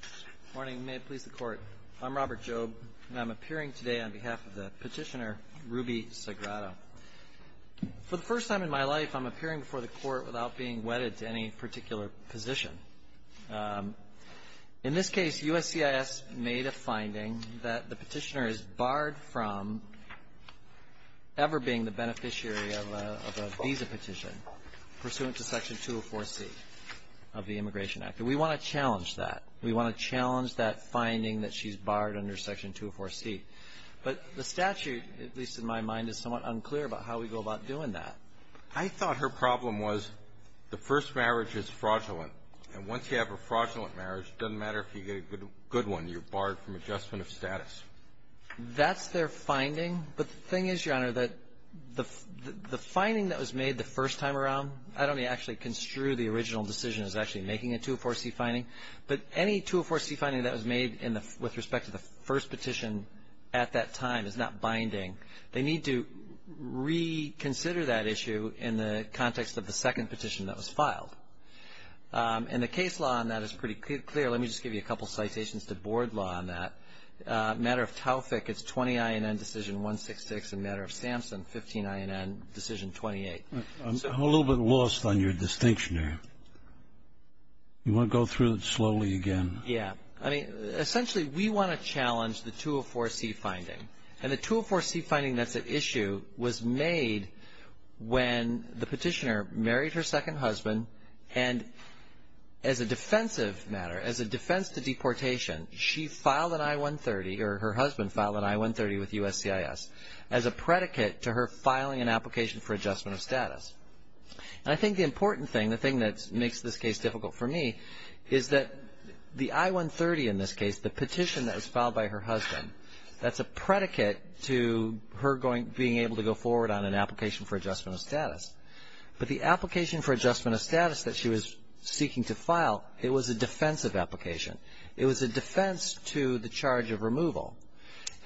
Good morning. May it please the court. I'm Robert Jobe, and I'm appearing today on behalf of the petitioner, Ruby Sagrado. For the first time in my life, I'm appearing before the court without being wedded to any particular position. In this case, USCIS made a finding that the petitioner is barred from ever being the beneficiary of a visa petition pursuant to Section 204C of the Immigration Act. And we want to challenge that. We want to challenge that finding that she's barred under Section 204C. But the statute, at least in my mind, is somewhat unclear about how we go about doing that. I thought her problem was the first marriage is fraudulent, and once you have a fraudulent marriage, it doesn't matter if you get a good one. You're barred from adjustment of status. That's their finding. But the thing is, Your Honor, that the finding that was made the first time around, I don't actually construe the original decision as actually making a 204C finding, but any 204C finding that was made with respect to the first petition at that time is not binding. They need to reconsider that issue in the context of the second petition that was filed. And the case law on that is pretty clear. Let me just give you a couple citations to board law on that. Matter of Taufik, it's 20INN Decision 166, and Matter of Sampson, 15INN Decision 28. I'm a little bit lost on your distinction there. You want to go through it slowly again? Yeah. I mean, essentially, we want to challenge the 204C finding. And the 204C finding that's at issue was made when the petitioner married her second husband, and as a defensive matter, as a defense to deportation, she filed an I-130, or her husband filed an I-130 with USCIS as a predicate to her filing an application for adjustment of status. And I think the important thing, the thing that makes this case difficult for me, is that the I-130 in this case, the petition that was filed by her husband, that's a predicate to her being able to go forward on an application for adjustment of status. But the application for adjustment of status that she was seeking to file, it was a defensive application. It was a defense to the charge of removal.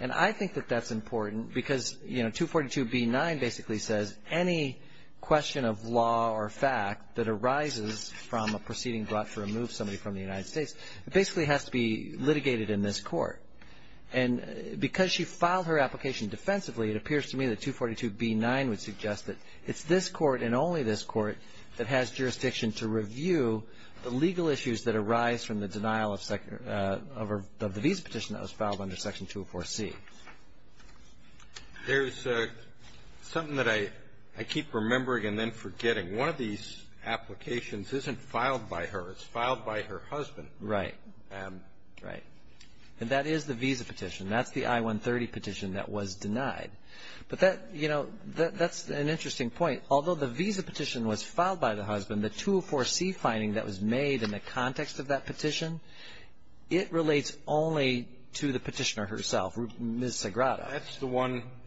And I think that that's important because, you know, 242B9 basically says any question of law or fact that arises from a proceeding brought to remove somebody from the United States, it basically has to be litigated in this court. And because she filed her application defensively, it appears to me that 242B9 would suggest that it's this court and only this court that has jurisdiction to review the legal issues that arise from the denial of the visa petition that was filed under Section 204C. There's something that I keep remembering and then forgetting. One of these applications isn't filed by her. It's filed by her husband. Right. And that is the visa petition. That's the I-130 petition that was denied. But that, you know, that's an interesting point. Although the visa petition was filed by the husband, the 204C finding that was made in the context of that petition, it relates only to the petitioner herself, Ms. Sagrada.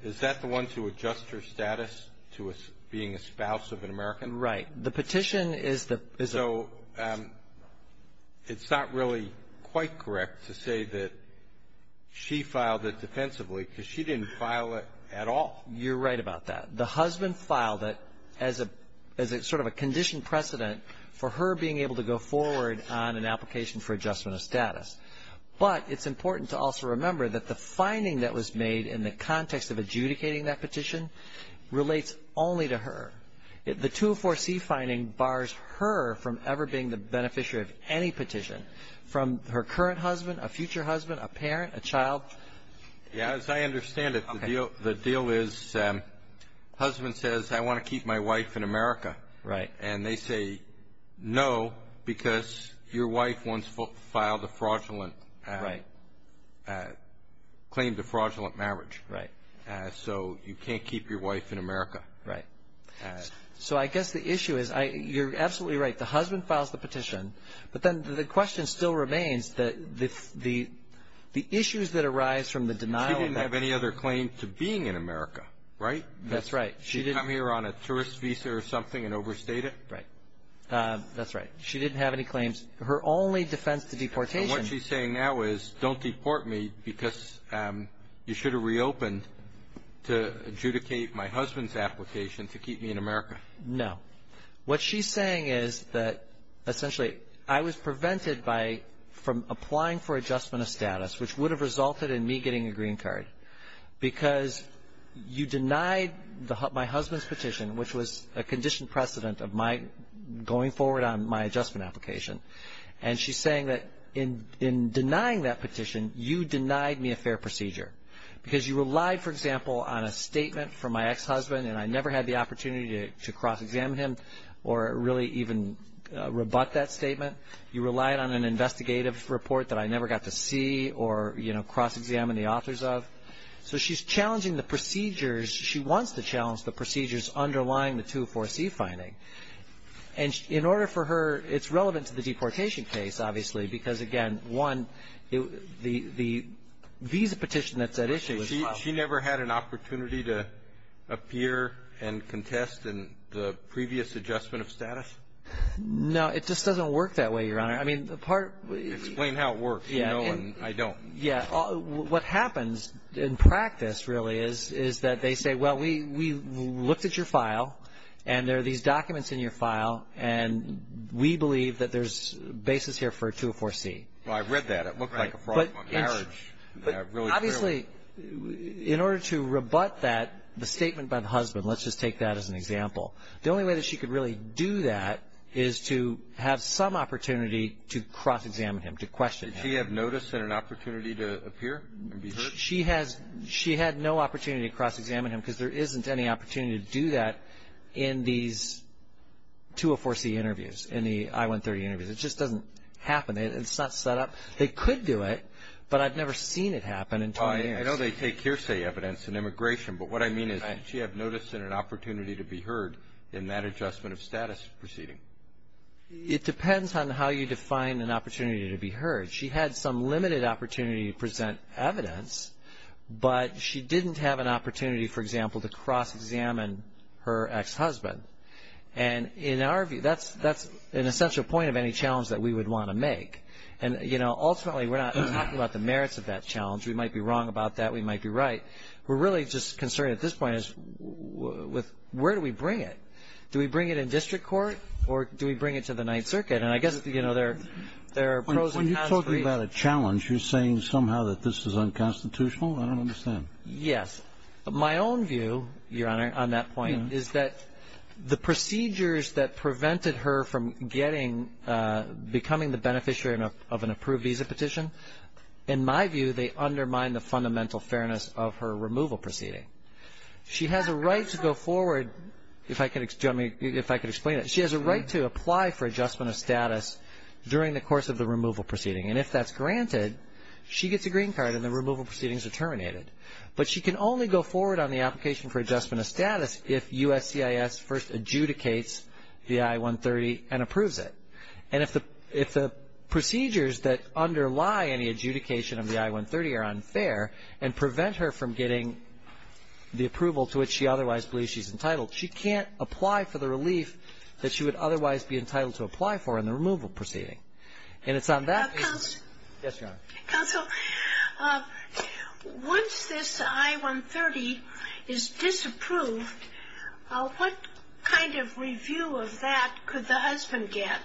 Is that the one to adjust her status to being a spouse of an American? Right. The petition is the visa. So it's not really quite correct to say that she filed it defensively because she didn't file it at all. You're right about that. The husband filed it as a sort of a conditioned precedent for her being able to go forward on an application for adjustment of status. But it's important to also remember that the finding that was made in the context of adjudicating that petition relates only to her. The 204C finding bars her from ever being the beneficiary of any petition, from her current husband, a future husband, a parent, a child. As I understand it, the deal is husband says, I want to keep my wife in America. Right. And they say no because your wife once filed a fraudulent claim to fraudulent marriage. So you can't keep your wife in America. Right. So I guess the issue is you're absolutely right. The husband files the petition. But then the question still remains the issues that arise from the denial of that. She didn't have any other claim to being in America, right? That's right. She didn't come here on a tourist visa or something and overstate it? Right. That's right. She didn't have any claims. Her only defense to deportation. What she's saying now is don't deport me because you should have reopened to adjudicate my husband's application to keep me in America. No. What she's saying is that essentially I was prevented from applying for adjustment of status, which would have resulted in me getting a green card, because you denied my husband's petition, which was a conditioned precedent of my going forward on my adjustment application. And she's saying that in denying that petition you denied me a fair procedure because you relied, for example, on a statement from my ex-husband and I never had the opportunity to cross-examine him or really even rebut that statement. You relied on an investigative report that I never got to see or, you know, cross-examine the authors of. So she's challenging the procedures. She wants to challenge the procedures underlying the 204C finding. And in order for her, it's relevant to the deportation case, obviously, because, again, one, the visa petition that's at issue as well. She never had an opportunity to appear and contest in the previous adjustment of status? No. It just doesn't work that way, Your Honor. I mean, the part of the ---- Explain how it works. You know, and I don't. Yeah. What happens in practice, really, is that they say, well, we looked at your file, and there are these documents in your file, and we believe that there's basis here for a 204C. Well, I read that. It looked like a fraud from a marriage. But obviously, in order to rebut that, the statement by the husband, let's just take that as an example, the only way that she could really do that is to have some opportunity to cross-examine him, to question him. Did she have notice and an opportunity to appear and be heard? She had no opportunity to cross-examine him because there isn't any opportunity to do that in these 204C interviews, in the I-130 interviews. It just doesn't happen. It's not set up. They could do it, but I've never seen it happen in 20 years. I know they take hearsay evidence in immigration, but what I mean is she had notice and an opportunity to be heard in that adjustment of status proceeding. It depends on how you define an opportunity to be heard. She had some limited opportunity to present evidence, but she didn't have an opportunity, for example, to cross-examine her ex-husband. And in our view, that's an essential point of any challenge that we would want to make. And, you know, ultimately, we're not talking about the merits of that challenge. We might be wrong about that. We might be right. We're really just concerned at this point with where do we bring it? Do we bring it in district court or do we bring it to the Ninth Circuit? And I guess, you know, there are pros and cons for each. When you're talking about a challenge, you're saying somehow that this is unconstitutional? I don't understand. Yes. My own view, Your Honor, on that point is that the procedures that prevented her from becoming the beneficiary of an approved visa petition, in my view, they undermine the fundamental fairness of her removal proceeding. She has a right to go forward, if I could explain it. She has a right to apply for adjustment of status during the course of the removal proceeding. And if that's granted, she gets a green card and the removal proceedings are terminated. But she can only go forward on the application for adjustment of status if USCIS first adjudicates the I-130 and approves it. And if the procedures that underlie any adjudication of the I-130 are unfair and prevent her from getting the approval to which she otherwise believes she's entitled, she can't apply for the relief that she would otherwise be entitled to apply for in the removal proceeding. And it's on that basis. Counsel. Yes, Your Honor. Counsel, once this I-130 is disapproved, what kind of review of that could the husband get?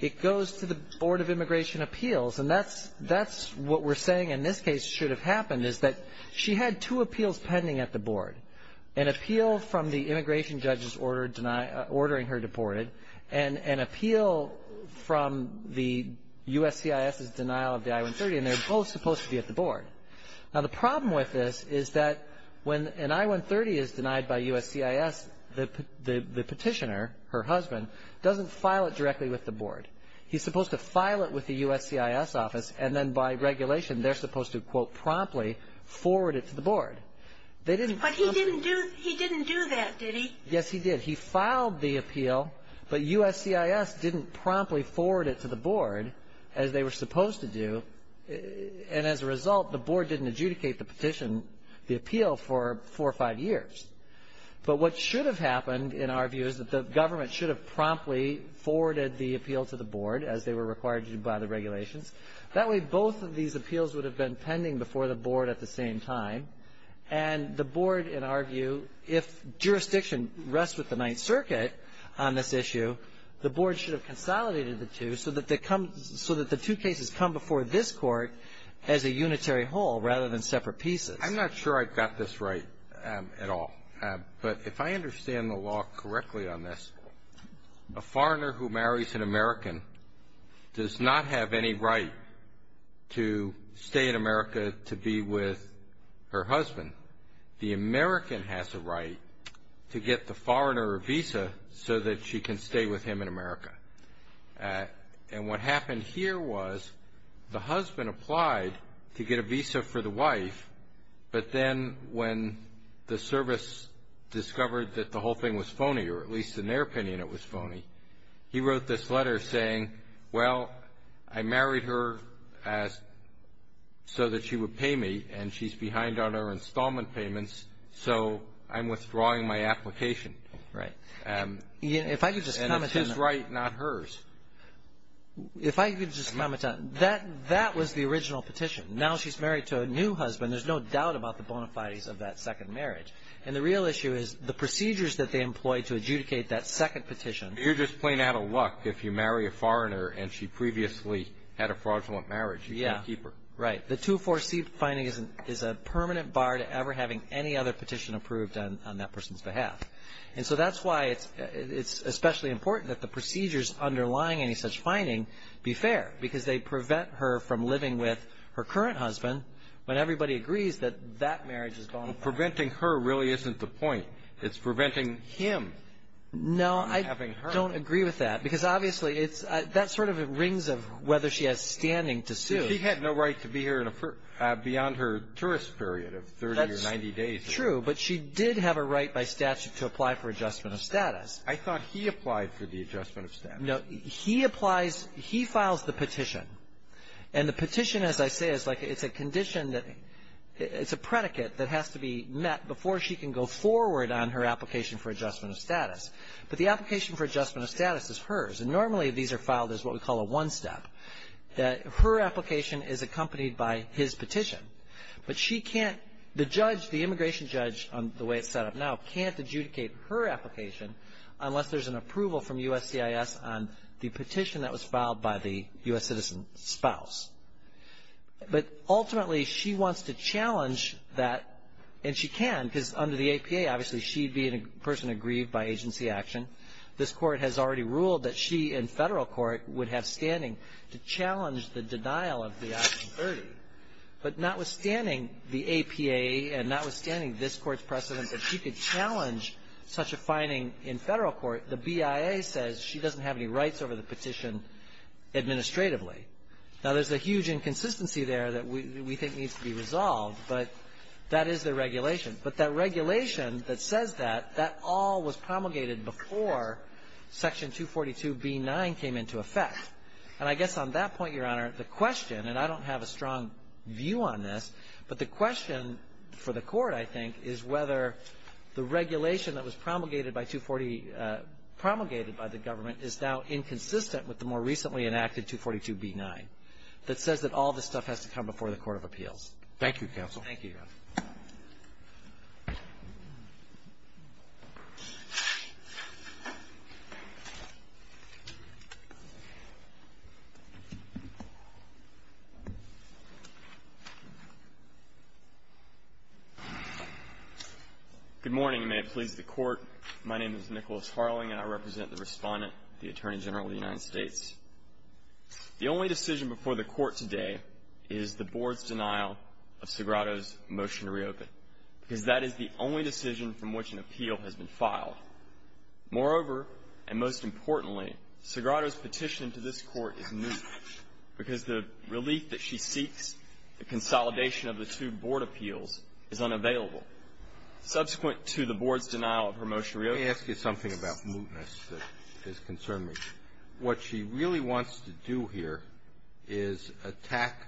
It goes to the Board of Immigration Appeals. And that's what we're saying in this case should have happened, is that she had two appeals pending at the Board, an appeal from the immigration judge ordering her deported and an appeal from the USCIS's denial of the I-130, and they're both supposed to be at the Board. Now, the problem with this is that when an I-130 is denied by USCIS, the petitioner, her husband, doesn't file it directly with the Board. He's supposed to file it with the USCIS office, and then by regulation they're supposed to, quote, promptly forward it to the Board. They didn't promptly. But he didn't do that, did he? Yes, he did. He filed the appeal, but USCIS didn't promptly forward it to the Board as they were supposed to do. And as a result, the Board didn't adjudicate the petition, the appeal for four or five years. But what should have happened, in our view, is that the government should have promptly forwarded the appeal to the Board as they were required to do by the regulations. That way, both of these appeals would have been pending before the Board at the same time. And the Board, in our view, if jurisdiction rests with the Ninth Circuit on this issue, the Board should have consolidated the two so that they come so that the two cases come before this Court as a unitary whole rather than separate pieces. I'm not sure I've got this right at all. But if I understand the law correctly on this, a foreigner who marries an American does not have any right to stay in America to be with her husband. The American has a right to get the foreigner a visa so that she can stay with him in America. And what happened here was the husband applied to get a visa for the wife, but then when the service discovered that the whole thing was phony, or at least in their opinion it was phony, he wrote this letter saying, well, I married her as so that she would pay me, and she's behind on her installment payments, so I'm withdrawing my application. Right. If I could just comment on that. And it's his right, not hers. If I could just comment on that, that was the original petition. Now she's married to a new husband. There's no doubt about the bona fides of that second marriage. And the real issue is the procedures that they employ to adjudicate that second petition. You're just playing out of luck if you marry a foreigner and she previously had a fraudulent marriage. You can't keep her. Right. The 2-4C finding is a permanent bar to ever having any other petition approved on that person's behalf. And so that's why it's especially important that the procedures underlying any such finding be fair, because they prevent her from living with her current husband when everybody agrees that that marriage is bona fide. Well, preventing her really isn't the point. It's preventing him from having her. No, I don't agree with that, because obviously it's that sort of rings of whether she has standing to sue. She had no right to be here beyond her tourist period of 30 or 90 days. That's true, but she did have a right by statute to apply for adjustment of status. I thought he applied for the adjustment of status. No, he applies, he files the petition. And the petition, as I say, is like it's a condition that it's a predicate that has to be met before she can go forward on her application for adjustment of status. But the application for adjustment of status is hers. And normally these are filed as what we call a one-step. Her application is accompanied by his petition. But she can't, the judge, the immigration judge, the way it's set up now, can't adjudicate her application unless there's an approval from USCIS on the petition that was filed by the U.S. citizen's spouse. But ultimately, she wants to challenge that, and she can, because under the APA, obviously she being a person aggrieved by agency action, this court has already ruled that she in federal court would have standing to challenge the denial of the option 30. But notwithstanding the APA and notwithstanding this Court's precedent that she could challenge such a finding in federal court, the BIA says she doesn't have any rights over the petition administratively. Now, there's a huge inconsistency there that we think needs to be resolved, but that is the regulation. But that regulation that says that, that all was promulgated before Section 242b9 came into effect. And I guess on that point, Your Honor, the question, and I don't have a strong view on this, but the question for the Court, I think, is whether the regulation that was promulgated by 240 – promulgated by the government is now inconsistent with the more recently enacted 242b9 that says that all this stuff has to come before the court of appeals. Roberts. Thank you, counsel. Thank you, Your Honor. Good morning, and may it please the Court. My name is Nicholas Harling, and I represent the Respondent, the Attorney General of the United States. The only decision before the Court today is the board's denial of Segrato's motion to reopen, because that is the only decision from which an appeal has been filed. Moreover, and most importantly, Segrato's petition to this Court is moot, because the relief that she seeks, the consolidation of the two board appeals, is unavailable. Subsequent to the board's denial of her motion to reopen – What she really wants to do here is attack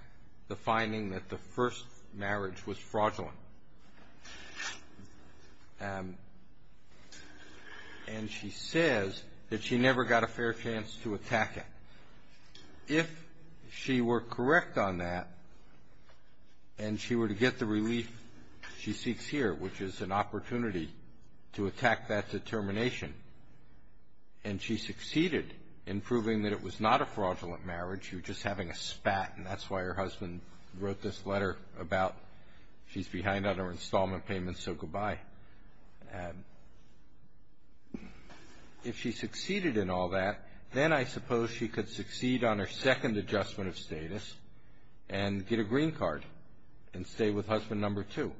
the finding that the first marriage was fraudulent. And she says that she never got a fair chance to attack it. If she were correct on that and she were to get the relief she seeks here, which is an opportunity to attack that determination, and she succeeded in proving that it was not a fraudulent marriage, she was just having a spat, and that's why her husband wrote this letter about she's behind on her installment payments, so goodbye. If she succeeded in all that, then I suppose she could succeed on her second adjustment of status and get a green card and stay with husband number two.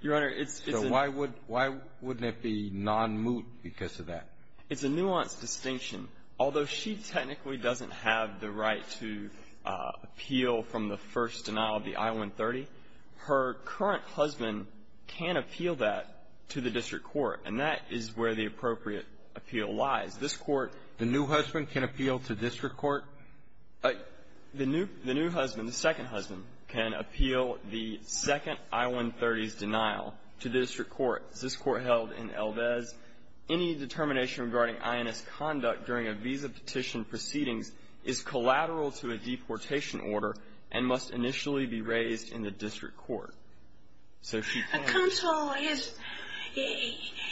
Your Honor, it's a – Why wouldn't it be non-moot because of that? It's a nuanced distinction. Although she technically doesn't have the right to appeal from the first denial of the I-130, her current husband can appeal that to the district court, and that is where the appropriate appeal lies. This Court – The new husband can appeal to district court? The new husband, the second husband, can appeal the second I-130's denial to the district court. This Court held in El Vez, any determination regarding INS conduct during a visa petition proceedings is collateral to a deportation order and must initially be raised in the district court. So she can't – Counsel,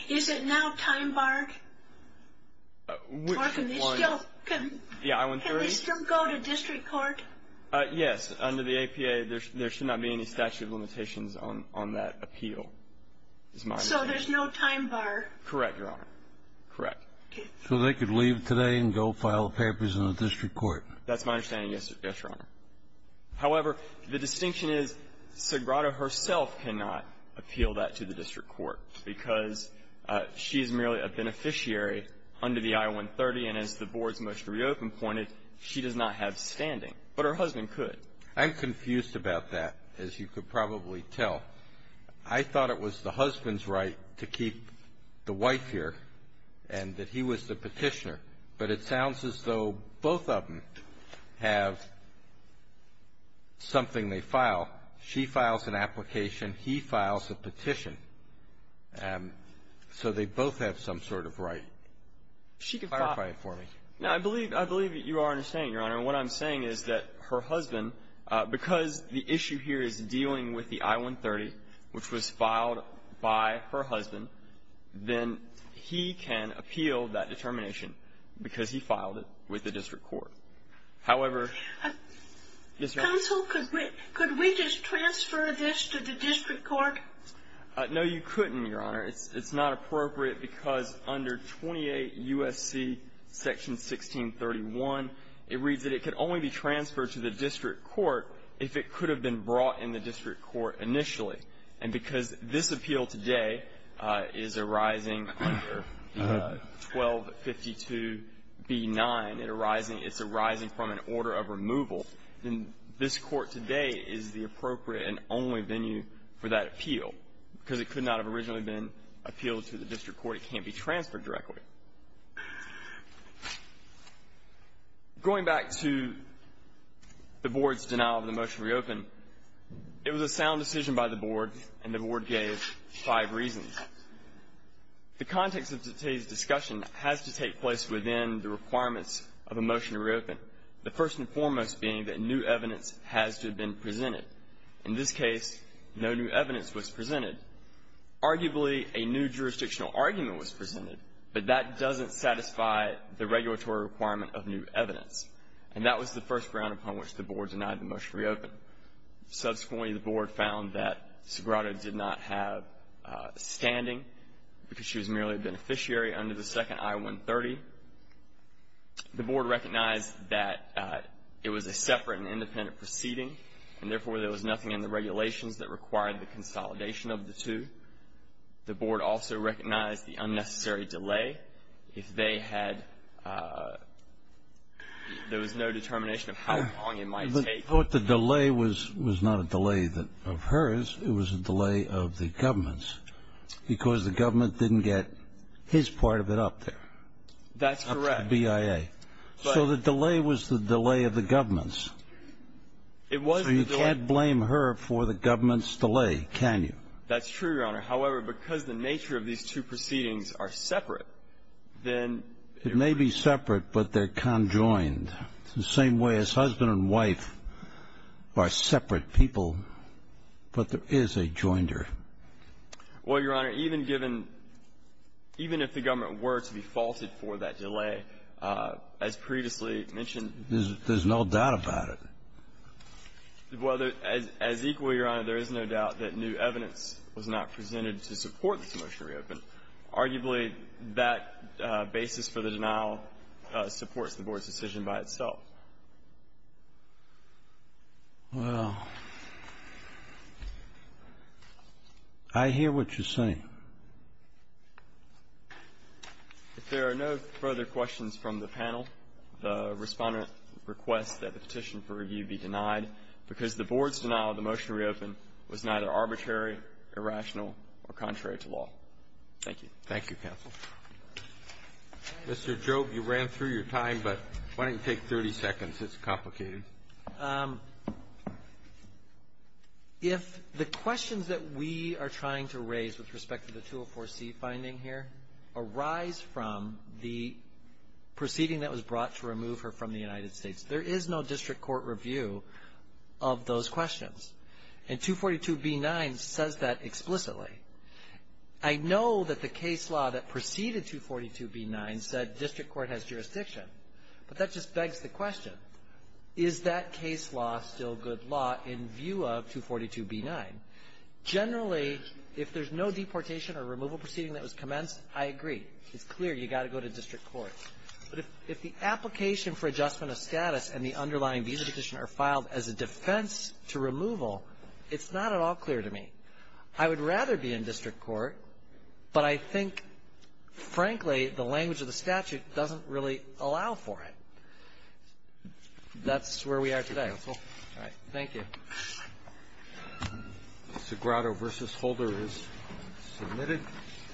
is it now time, Mark? Which one? Can they still – The I-130? Can they still go to district court? Yes. Under the APA, there should not be any statute of limitations on that appeal, is my understanding. So there's no time bar? Correct, Your Honor. Correct. So they could leave today and go file papers in the district court? That's my understanding, yes, Your Honor. However, the distinction is Sagrada herself cannot appeal that to the district court because she is merely a beneficiary under the I-130. And as the Board's motion to reopen pointed, she does not have standing. But her husband could. I'm confused about that, as you could probably tell. I thought it was the husband's right to keep the wife here and that he was the petitioner. But it sounds as though both of them have something they file. She files an application. He files a petition. So they both have some sort of right. Clarify it for me. I believe that you are understanding, Your Honor. What I'm saying is that her husband, because the issue here is dealing with the I-130, which was filed by her husband, then he can appeal that determination However, Ms. Reynolds? Counsel, could we just transfer this to the district court? No, you couldn't, Your Honor. It's not appropriate because under 28 U.S.C. Section 1631, it reads that it could only be transferred to the district court if it could have been brought in the district court initially. And because this appeal today is arising under 1252b9, it's arising from an order of removal. Then this court today is the appropriate and only venue for that appeal because it could not have originally been appealed to the district court. It can't be transferred directly. Going back to the Board's denial of the motion to reopen, it was a sound decision by the Board, and the Board gave five reasons. The context of today's discussion has to take place within the requirements of a motion to reopen, the first and foremost being that new evidence has to have been presented. In this case, no new evidence was presented. Arguably, a new jurisdictional argument was presented, but that doesn't satisfy the regulatory requirement of new evidence. And that was the first ground upon which the Board denied the motion to reopen. Subsequently, the Board found that Sgrato did not have standing because she was merely a beneficiary under the second I-130. The Board recognized that it was a separate and independent proceeding, and therefore there was nothing in the regulations that required the consolidation of the two. The Board also recognized the unnecessary delay. If they had no determination of how long it might take. I thought the delay was not a delay of hers. It was a delay of the government's because the government didn't get his part of it up there. That's correct. Up to the BIA. So the delay was the delay of the government's. It was the delay. So you can't blame her for the government's delay, can you? That's true, Your Honor. However, because the nature of these two proceedings are separate, then it was. It may be separate, but they're conjoined. It's the same way as husband and wife are separate people, but there is a joinder. Well, Your Honor, even given, even if the government were to be faulted for that delay, as previously mentioned. There's no doubt about it. Well, as equal, Your Honor, there is no doubt that new evidence was not presented to support this motion to reopen. Arguably, that basis for the denial supports the Board's decision by itself. Well, I hear what you're saying. If there are no further questions from the panel, the Respondent requests that the petition for review be denied because the Board's denial of the motion to reopen was neither arbitrary, irrational, or contrary to law. Thank you, counsel. Mr. Jobe, you ran through your time, but why don't you take 30 seconds? It's complicated. If the questions that we are trying to raise with respect to the 204C finding here arise from the proceeding that was brought to remove her from the United States, there is no district court review of those questions. And 242B9 says that explicitly. I know that the case law that preceded 242B9 said district court has jurisdiction, but that just begs the question, is that case law still good law in view of 242B9? Generally, if there's no deportation or removal proceeding that was commenced, I agree. It's clear you've got to go to district court. But if the application for adjustment of status and the underlying visa petition are filed as a defense to removal, it's not at all clear to me. I would rather be in district court, but I think, frankly, the language of the statute doesn't really allow for it. That's where we are today. Thank you, counsel. All right. Thank you. Sagrado v. Holder is submitted.